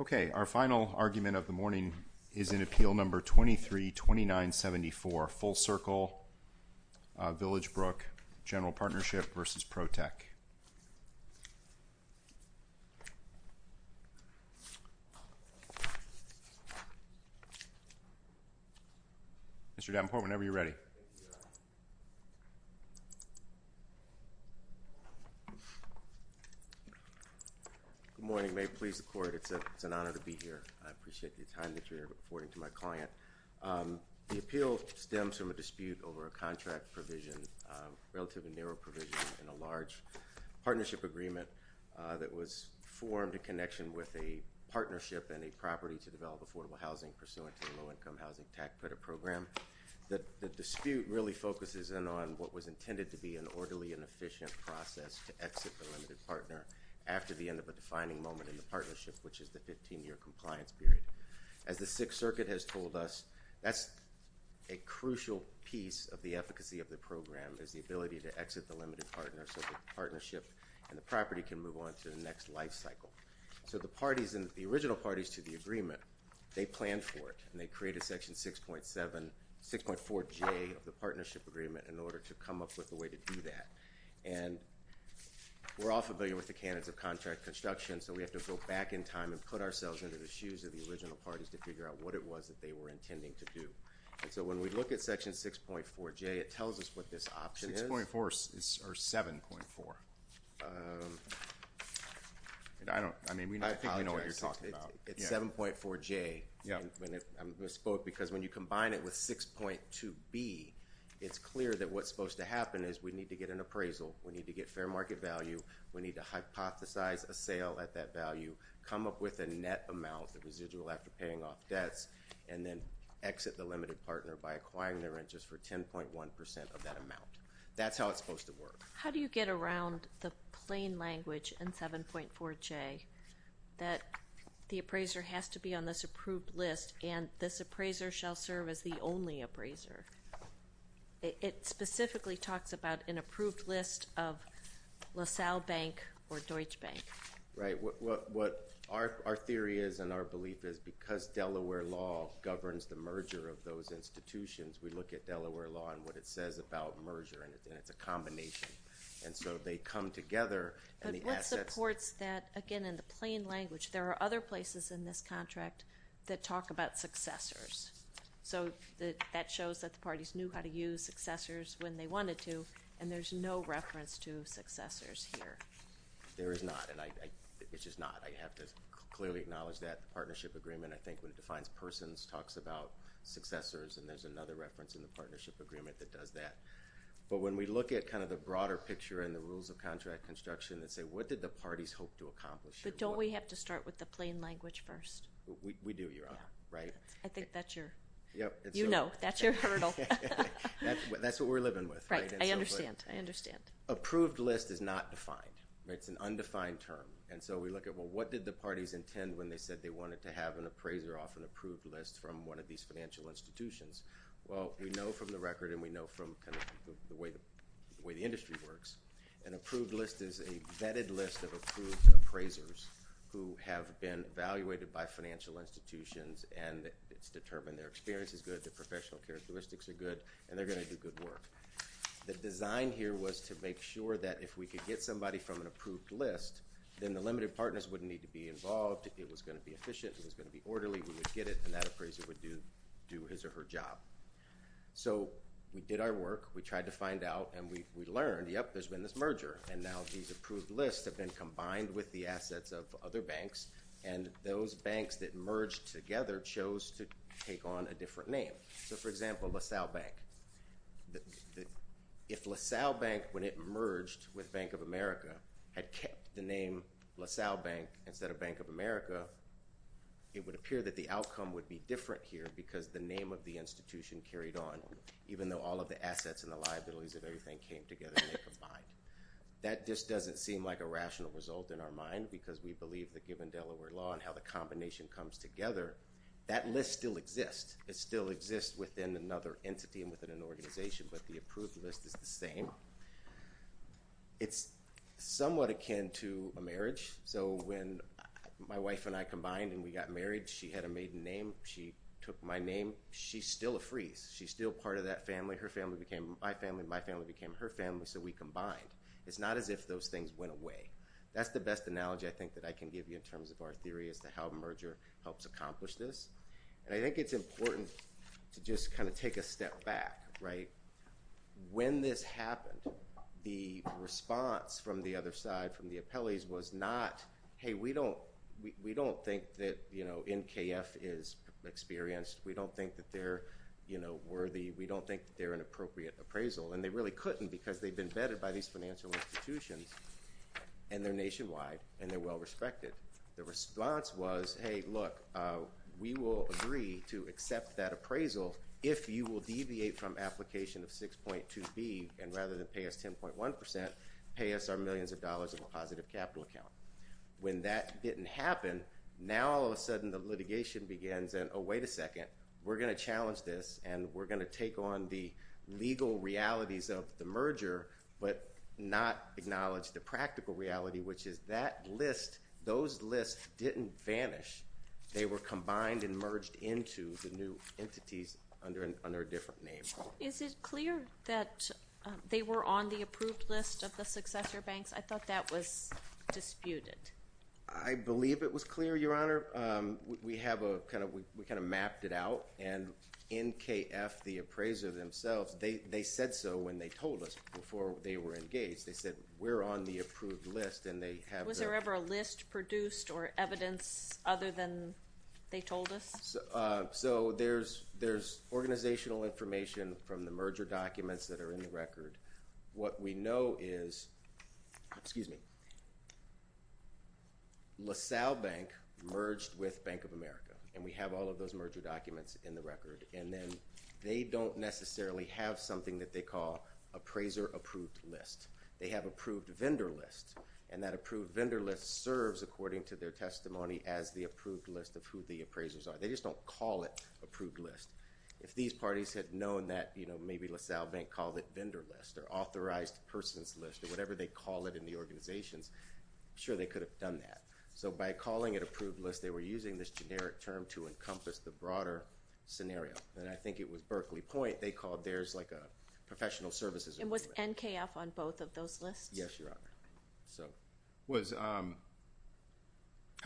Okay, our final argument of the morning is in appeal number 23-2974 Full Circle Villagebrook General Partnership v. Protech. Mr. Davenport, whenever you're ready. Good morning. May it please the court, it's an honor to be here. I appreciate your time that you're here reporting to my client. The appeal stems from a dispute over a contract provision, relatively narrow provision, in a large partnership agreement that was formed in connection with a partnership and a property to develop affordable housing pursuant to the low-income housing tax credit program. The dispute really focuses in on what was intended to be an orderly and efficient process to exit the limited partner after the end of a defining moment in the partnership, which is the 15-year compliance period. As the Sixth Circuit has told us, that's a crucial piece of the efficacy of the program, is the ability to exit the limited partner so the partnership and the property can move on to the next life cycle. So the parties, the original parties to the agreement, they planned for it and they created section 6.7, 6.4J of the partnership agreement in order to come up with a way to do that. And we're all familiar with the canons of contract construction, so we have to go back in time and put ourselves into the shoes of the original parties to figure out what it was that they were intending to do. And so when we look at section 6.4J, it tells us what this option is. 6.4 or 7.4? I mean, I think we know what you're talking about. It's 7.4J. I'm going to spoke because when you combine it with 6.2B, it's clear that what's supposed to happen is we need to get an appraisal. We need to get fair market value. We need to hypothesize a sale at that value, come up with a net amount of residual after paying off debts, and then exit the limited partner by acquiring the rent just for 10.1% of that amount. That's how it's supposed to work. How do you get around the plain language in 7.4J that the appraiser has to be on this approved list and this appraiser shall serve as the only appraiser? It specifically talks about an approved list of LaSalle Bank or Deutsche Bank. Right. Our theory is and our belief is because Delaware law governs the merger of those institutions, we look at Delaware law and what it says about merger, and it's a combination. And so they come together and the assets— But what supports that, again, in the plain language? There are other places in this contract that talk about successors. So that shows that the parties knew how to use successors when they wanted to, and there's no reference to successors here. There is not, and I—it's just not. I have to clearly acknowledge that the partnership agreement, I think, when it defines persons, talks about successors, and there's another reference in the partnership agreement that does that. But when we look at kind of the broader picture and the rules of contract construction that say what did the parties hope to accomplish— But don't we have to start with the plain language first? We do, Your Honor, right? I think that's your— Yep. You know. That's your hurdle. That's what we're living with. Right. I understand. I understand. Approved list is not defined. It's an undefined term. And so we look at, well, what did the parties intend when they said they wanted to have an appraiser off an approved list from one of these financial institutions? Well, we know from the record and we know from kind of the way the industry works, an approved list is a vetted list of approved appraisers who have been evaluated by financial institutions, and it's determined their experience is good, their professional characteristics are good, and they're going to do good work. The design here was to make sure that if we could get somebody from an approved list, then the limited partners wouldn't need to be involved. It was going to be efficient. It was going to be orderly. We would get it, and that appraiser would do his or her job. So we did our work. We tried to find out, and we learned, yep, there's been this merger, and now these approved lists have been combined with the assets of other banks, and those banks that merged together chose to take on a different name. So, for example, LaSalle Bank. If LaSalle Bank, when it merged with Bank of America, had kept the name LaSalle Bank instead of Bank of America, it would appear that the outcome would be different here because the name of the institution carried on, even though all of the assets and the liabilities of everything came together and they combined. That just doesn't seem like a rational result in our mind because we believe that given Delaware law and how the combination comes together, that list still exists. It still exists within another entity and within an organization, but the approved list is the same. It's somewhat akin to a marriage. So when my wife and I combined and we got married, she had a maiden name. She took my name. She's still a freeze. She's still part of that family. Her family became my family. My family became her family, so we combined. It's not as if those things went away. That's the best analogy I think that I can give you in terms of our theory as to how merger helps accomplish this. I think it's important to just kind of take a step back. When this happened, the response from the other side, from the appellees, was not, hey, we don't think that NKF is experienced. We don't think that they're worthy. We don't think they're an appropriate appraisal, and they really couldn't because they've been vetted by these financial institutions and they're nationwide and they're well-respected. The response was, hey, look, we will agree to accept that appraisal if you will deviate from application of 6.2B and rather than pay us 10.1%, pay us our millions of dollars in a positive capital account. When that didn't happen, now all of a sudden the litigation begins and, oh, wait a second, we're going to challenge this and we're going to take on the legal realities of the merger, but not acknowledge the practical reality, which is that list, those lists didn't vanish. They were combined and merged into the new entities under a different name. Is it clear that they were on the approved list of the successor banks? I thought that was disputed. I believe it was clear, Your Honor. We kind of mapped it out, and NKF, the appraiser themselves, they said so when they told us before they were engaged. They said, we're on the approved list, and they have the- Was there ever a list produced or evidence other than they told us? So there's organizational information from the merger documents that are in the record. What we know is LaSalle Bank merged with Bank of America, and we have all of those merger documents in the record, and then they don't necessarily have something that they call appraiser approved list. They have approved vendor list, and that approved vendor list serves, according to their testimony, as the approved list of who the appraisers are. They just don't call it approved list. If these parties had known that maybe LaSalle Bank called it vendor list or authorized persons list or whatever they call it in the organizations, I'm sure they could have done that. So by calling it approved list, they were using this generic term to encompass the broader scenario, and I think it was Berkeley Point, they called theirs like a professional services- And was NKF on both of those lists? Yes, Your Honor.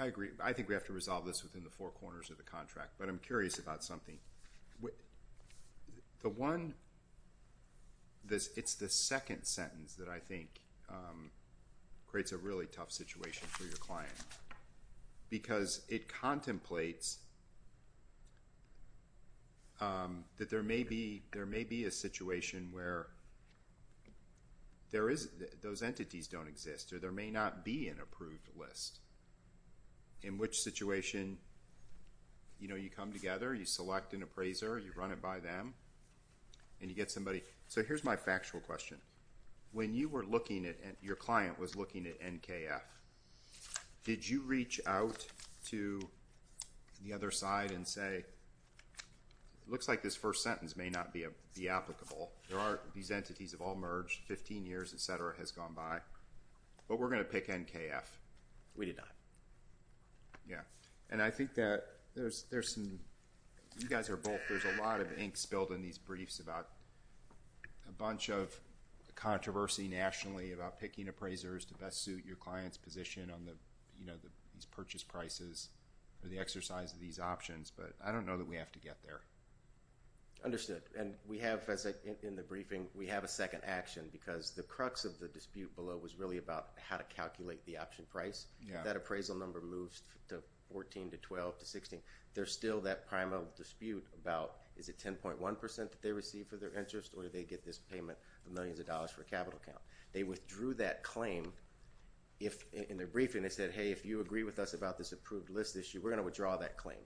I agree. I think we have to resolve this within the four corners of the contract, but I'm curious about something. It's the second sentence that I think creates a really tough situation for your client, because it contemplates that there may be a situation where those entities don't exist, or there may not be an approved list, in which situation you come together, you select an appraiser, you run it by them, and you get somebody. So here's my factual question. When your client was looking at NKF, did you reach out to the other side and say, it looks like this first sentence may not be applicable. These entities have all merged, 15 years, et cetera, has gone by, but we're going to pick NKF. We did not. Yeah. And I think that there's some, you guys are both, there's a lot of ink spilled in these briefs about a bunch of controversy nationally about picking appraisers to best suit your client's position on these purchase prices, or the exercise of these options, but I don't know that we have to get there. Understood. And we have, as I said in the briefing, we have a second action, because the crux of the dispute below was really about how to calculate the option price. If that appraisal number moves to 14, to 12, to 16, there's still that primal dispute about, is it 10.1% that they receive for their interest, or do they get this payment of millions of dollars for a capital account? They withdrew that claim in their briefing. They said, hey, if you agree with us about this approved list issue, we're going to withdraw that claim.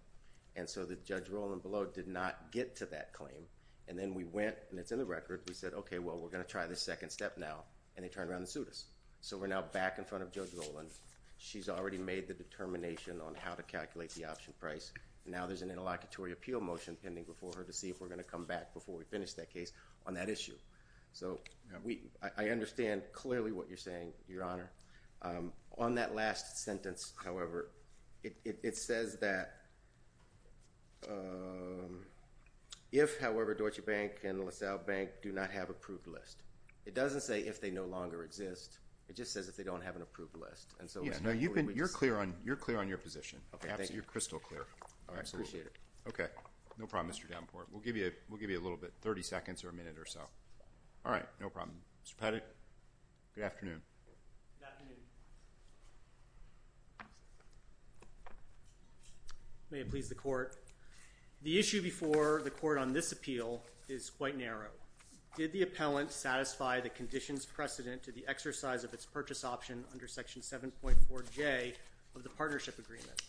And so the Judge Roland below did not get to that claim, and then we went, and it's in the record, we said, okay, well, we're going to try this second step now, and they turned around and sued us. So we're now back in front of Judge Roland. She's already made the determination on how to calculate the option price, and now there's an interlocutory appeal motion pending before her to see if we're going to come back before we finish that case on that issue. So I understand clearly what you're saying, Your Honor. On that last sentence, however, it says that if, however, Deutsche Bank and LaSalle Bank do not have approved list. It doesn't say if they no longer exist. It just says if they don't have an approved list. You're clear on your position. You're crystal clear. I appreciate it. No problem, Mr. Davenport. We'll give you a little bit, 30 seconds or a minute or so. All right. No problem. Mr. Pettit, good afternoon. Good afternoon. May it please the Court. The issue before the Court on this appeal is quite narrow. Did the appellant satisfy the conditions precedent to the exercise of its purchase option under Section 7.4J of the partnership agreement?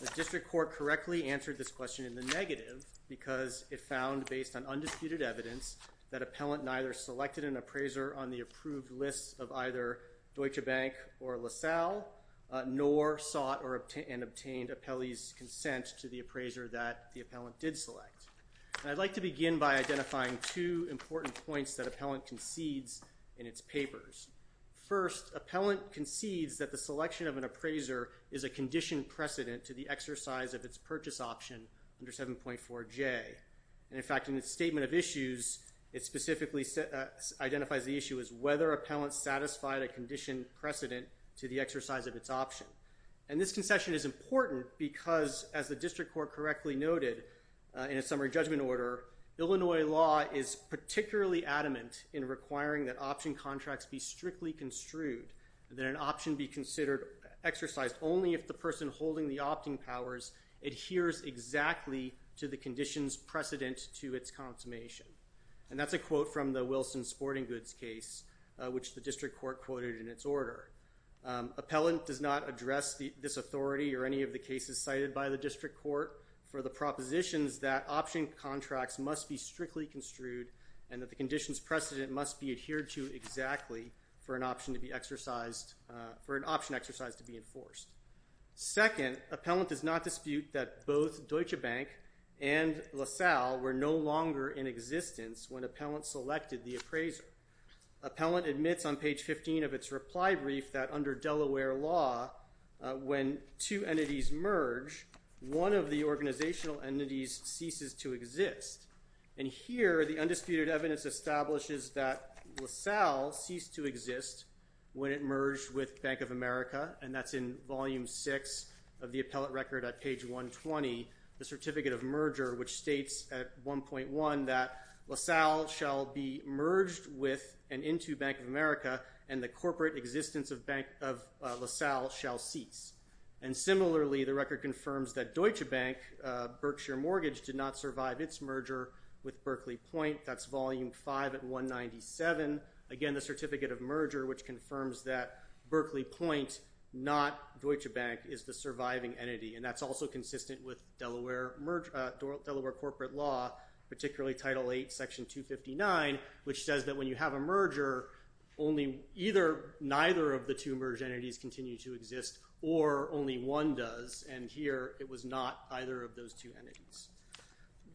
The district court correctly answered this question in the negative because it found, based on undisputed evidence, that appellant neither selected an appraiser on the approved list of either Deutsche Bank or LaSalle, nor sought and obtained appellee's consent to the appraiser that the appellant did select. I'd like to begin by identifying two important points that appellant concedes in its papers. First, appellant concedes that the selection of an appraiser is a conditioned precedent to the exercise of its purchase option under 7.4J. In fact, in its statement of issues, it specifically identifies the issue as whether appellant satisfied a conditioned precedent to the exercise of its option. And this concession is important because, as the district court correctly noted in its summary judgment order, Illinois law is particularly adamant in requiring that option contracts be strictly construed, that an option be considered exercised only if the person holding the opting powers adheres exactly to the conditions precedent to its consummation. And that's a quote from the Wilson sporting goods case, which the district court quoted in its order. Appellant does not address this authority or any of the cases cited by the district court for the propositions that option contracts must be strictly construed and that the conditions precedent must be adhered to exactly for an option exercise to be enforced. Second, appellant does not dispute that both Deutsche Bank and LaSalle were no longer in existence when appellant selected the appraiser. Appellant admits on page 15 of its reply brief that under Delaware law, when two entities merge, one of the organizational entities ceases to exist. And here, the undisputed evidence establishes that LaSalle ceased to exist when it merged with Bank of America, and that's in volume six of the appellant record at page 120, the certificate of merger, which states at 1.1 that LaSalle shall be merged with and into Bank of America and the corporate existence of LaSalle shall cease. And similarly, the record confirms that Deutsche Bank, Berkshire Mortgage, did not survive its merger with Berkeley Point. That's volume five at 197. Again, the certificate of merger, which confirms that Berkeley Point, not Deutsche Bank, is the surviving entity. And that's also consistent with Delaware corporate law, particularly Title VIII, Section 259, which says that when you have a merger, either neither of the two merged entities continue to exist or only one does. And here, it was not either of those two entities.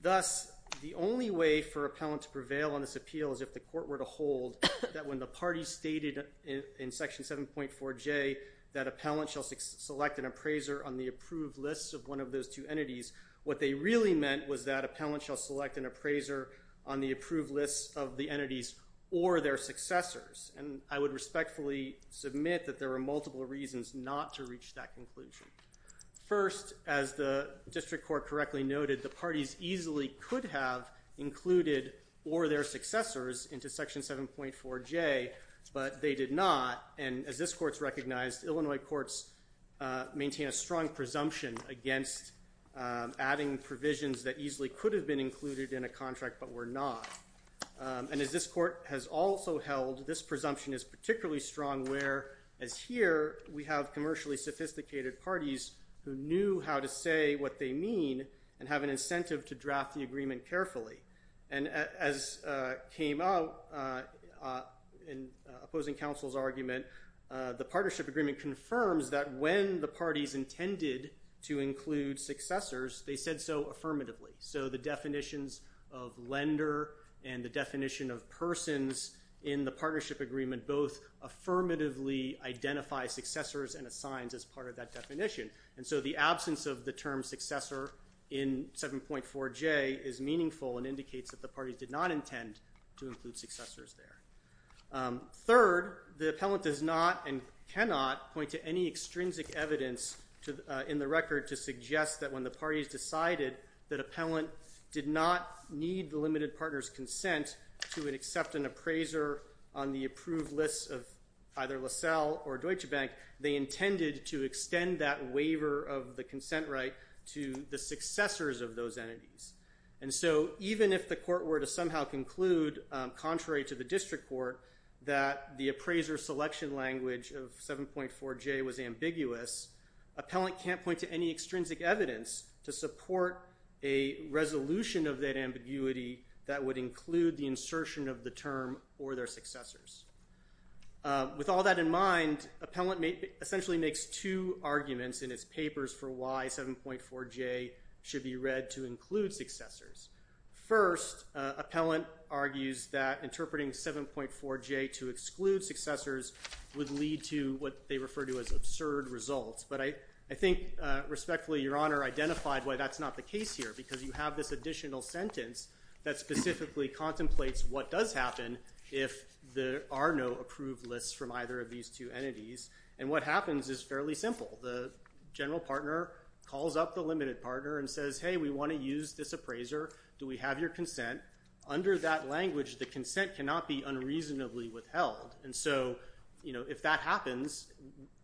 Thus, the only way for appellant to prevail on this appeal is if the court were to hold that when the party stated in Section 7.4J that appellant shall select an appraiser on the approved list of one of those two entities, what they really meant was that appellant shall select an appraiser on the approved list of the entities or their successors. And I would respectfully submit that there were multiple reasons not to reach that conclusion. First, as the district court correctly noted, the parties easily could have included or their successors into Section 7.4J, but they did not. And as this court's recognized, Illinois courts maintain a strong presumption against adding provisions that easily could have been included in a contract but were not. And as this court has also held, this presumption is particularly strong where, as here, we have commercially sophisticated parties who knew how to say what they mean and have an incentive to draft the agreement carefully. And as came out in opposing counsel's argument, the partnership agreement confirms that when the parties intended to include successors, they said so affirmatively. So the definitions of lender and the definition of persons in the partnership agreement both affirmatively identify successors and assigns as part of that definition. And so the absence of the term successor in 7.4J is meaningful and indicates that the parties did not intend to include successors there. Third, the appellant does not and cannot point to any extrinsic evidence in the record to suggest that when the parties decided that appellant did not need the limited partner's consent to accept an appraiser on the approved list of either LaSalle or Deutsche Bank, they intended to extend that waiver of the consent right to the successors of those entities. And so even if the court were to somehow conclude, contrary to the district court, that the appraiser selection language of 7.4J was ambiguous, appellant can't point to any extrinsic evidence to support a resolution of that ambiguity that would include the insertion of the term or their successors. With all that in mind, appellant essentially makes two arguments in its papers for why 7.4J should be read to include successors. First, appellant argues that interpreting 7.4J to exclude successors would lead to what they refer to as absurd results. But I think respectfully, Your Honor identified why that's not the case here because you have this additional sentence that specifically contemplates what does happen if there are no approved lists from either of these two entities. And what happens is fairly simple. The general partner calls up the limited partner and says, hey, we want to use this appraiser. Do we have your consent? Under that language, the consent cannot be unreasonably withheld. And so, you know, if that happens,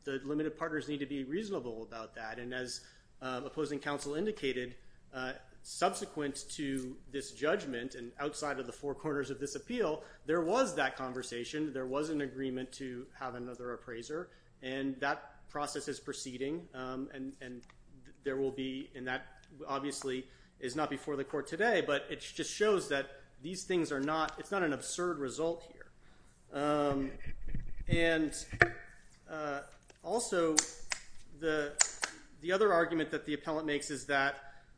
the limited partners need to be reasonable about that. And as opposing counsel indicated, subsequent to this judgment and outside of the four corners of this appeal, there was that conversation. There was an agreement to have another appraiser. And that process is proceeding and there will be and that obviously is not before the court today, but it just shows that these things are not it's not an absurd result here. And also, the other argument that the appellant makes is that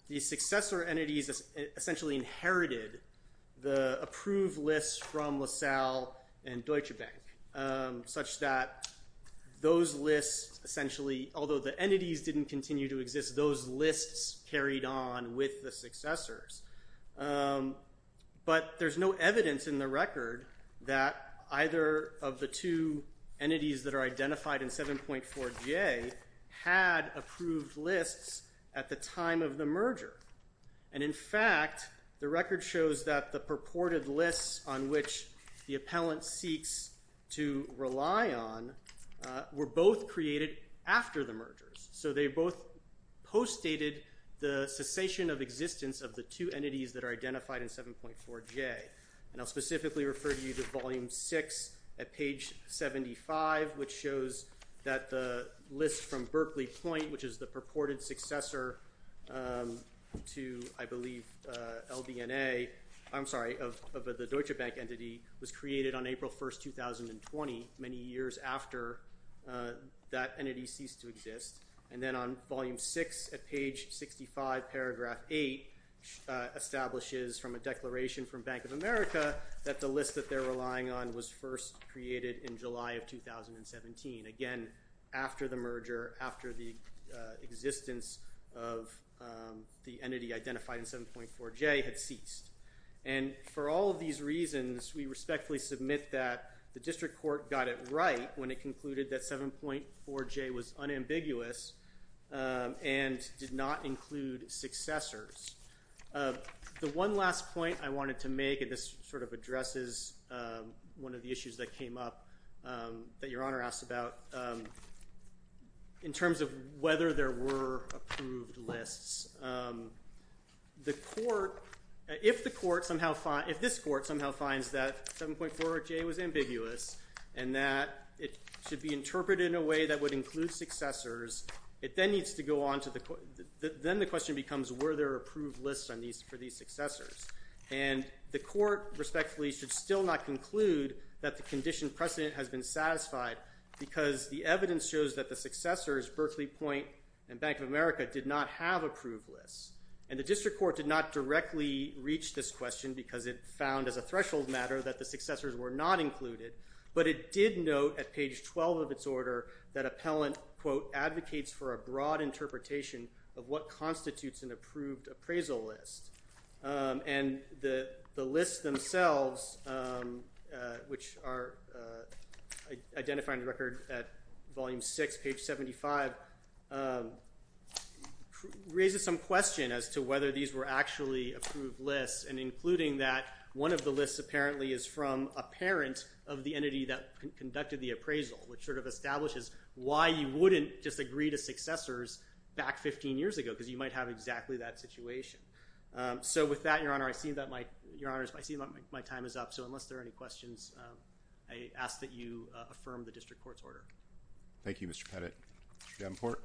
the successor entities essentially inherited the approved lists from LaSalle and Deutsche Bank, such that those lists essentially, although the entities didn't continue to exist, those lists carried on with the successors. But there's no evidence in the record that either of the two entities that are identified in 7.4J had approved lists at the time of the merger. And in fact, the record shows that the purported lists on which the appellant seeks to rely on were both created after the mergers. So they both postdated the cessation of existence of the two entities that are identified in 7.4J. And I'll specifically refer you to Volume 6 at page 75, which shows that the list from Berkeley Point, which is the purported successor to, I believe, LBNA, I'm sorry, of the Deutsche Bank entity, was created on April 1st, 2020, many years after that entity ceased to exist. And then on Volume 6 at page 65, paragraph 8, establishes from a declaration from Bank of America that the list that they're relying on was first created in July of 2017. Again, after the merger, after the existence of the entity identified in 7.4J had ceased. And for all of these reasons, we respectfully submit that the district court got it right when it concluded that 7.4J was unambiguous and did not include successors. The one last point I wanted to make, and this sort of addresses one of the issues that came up that Your Honor asked about, in terms of whether there were approved lists. The court, if the court somehow, if this court somehow finds that 7.4J was ambiguous and that it should be interpreted in a way that would include successors, it then needs to go on to the, then the question becomes were there approved lists for these successors. And the court respectfully should still not conclude that the condition precedent has been satisfied because the evidence shows that the successors, Berkeley Point and Bank of America, did not have approved lists. And the district court did not directly reach this question because it found as a threshold matter that the successors were not included. But it did note at page 12 of its order that appellant, quote, advocates for a broad interpretation of what constitutes an approved appraisal list. And the list themselves, which are identified in the record at volume six, page 75, raises some question as to whether these were actually approved lists and including that one of the lists apparently is from a parent of the entity that conducted the appraisal, which sort of establishes why you wouldn't just agree to successors back 15 years ago because you might have exactly that situation. So with that, Your Honor, I see that my, Your Honor, I see that my time is up. So unless there are any questions, I ask that you affirm the district court's order. Thank you, Mr. Pettit. Mr. Davenport?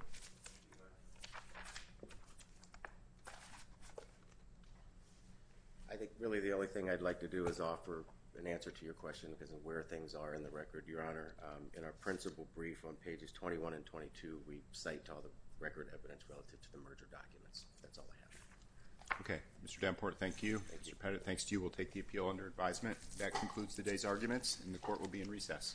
I think really the only thing I'd like to do is offer an answer to your question as to where things are in the record, Your Honor. In our principal brief on pages 21 and 22, we cite all the record evidence relative to the merger documents. That's all I have. Okay. Mr. Davenport, thank you. Thank you. Mr. Pettit, thanks to you, we'll take the appeal under advisement. That concludes today's arguments, and the court will be in recess.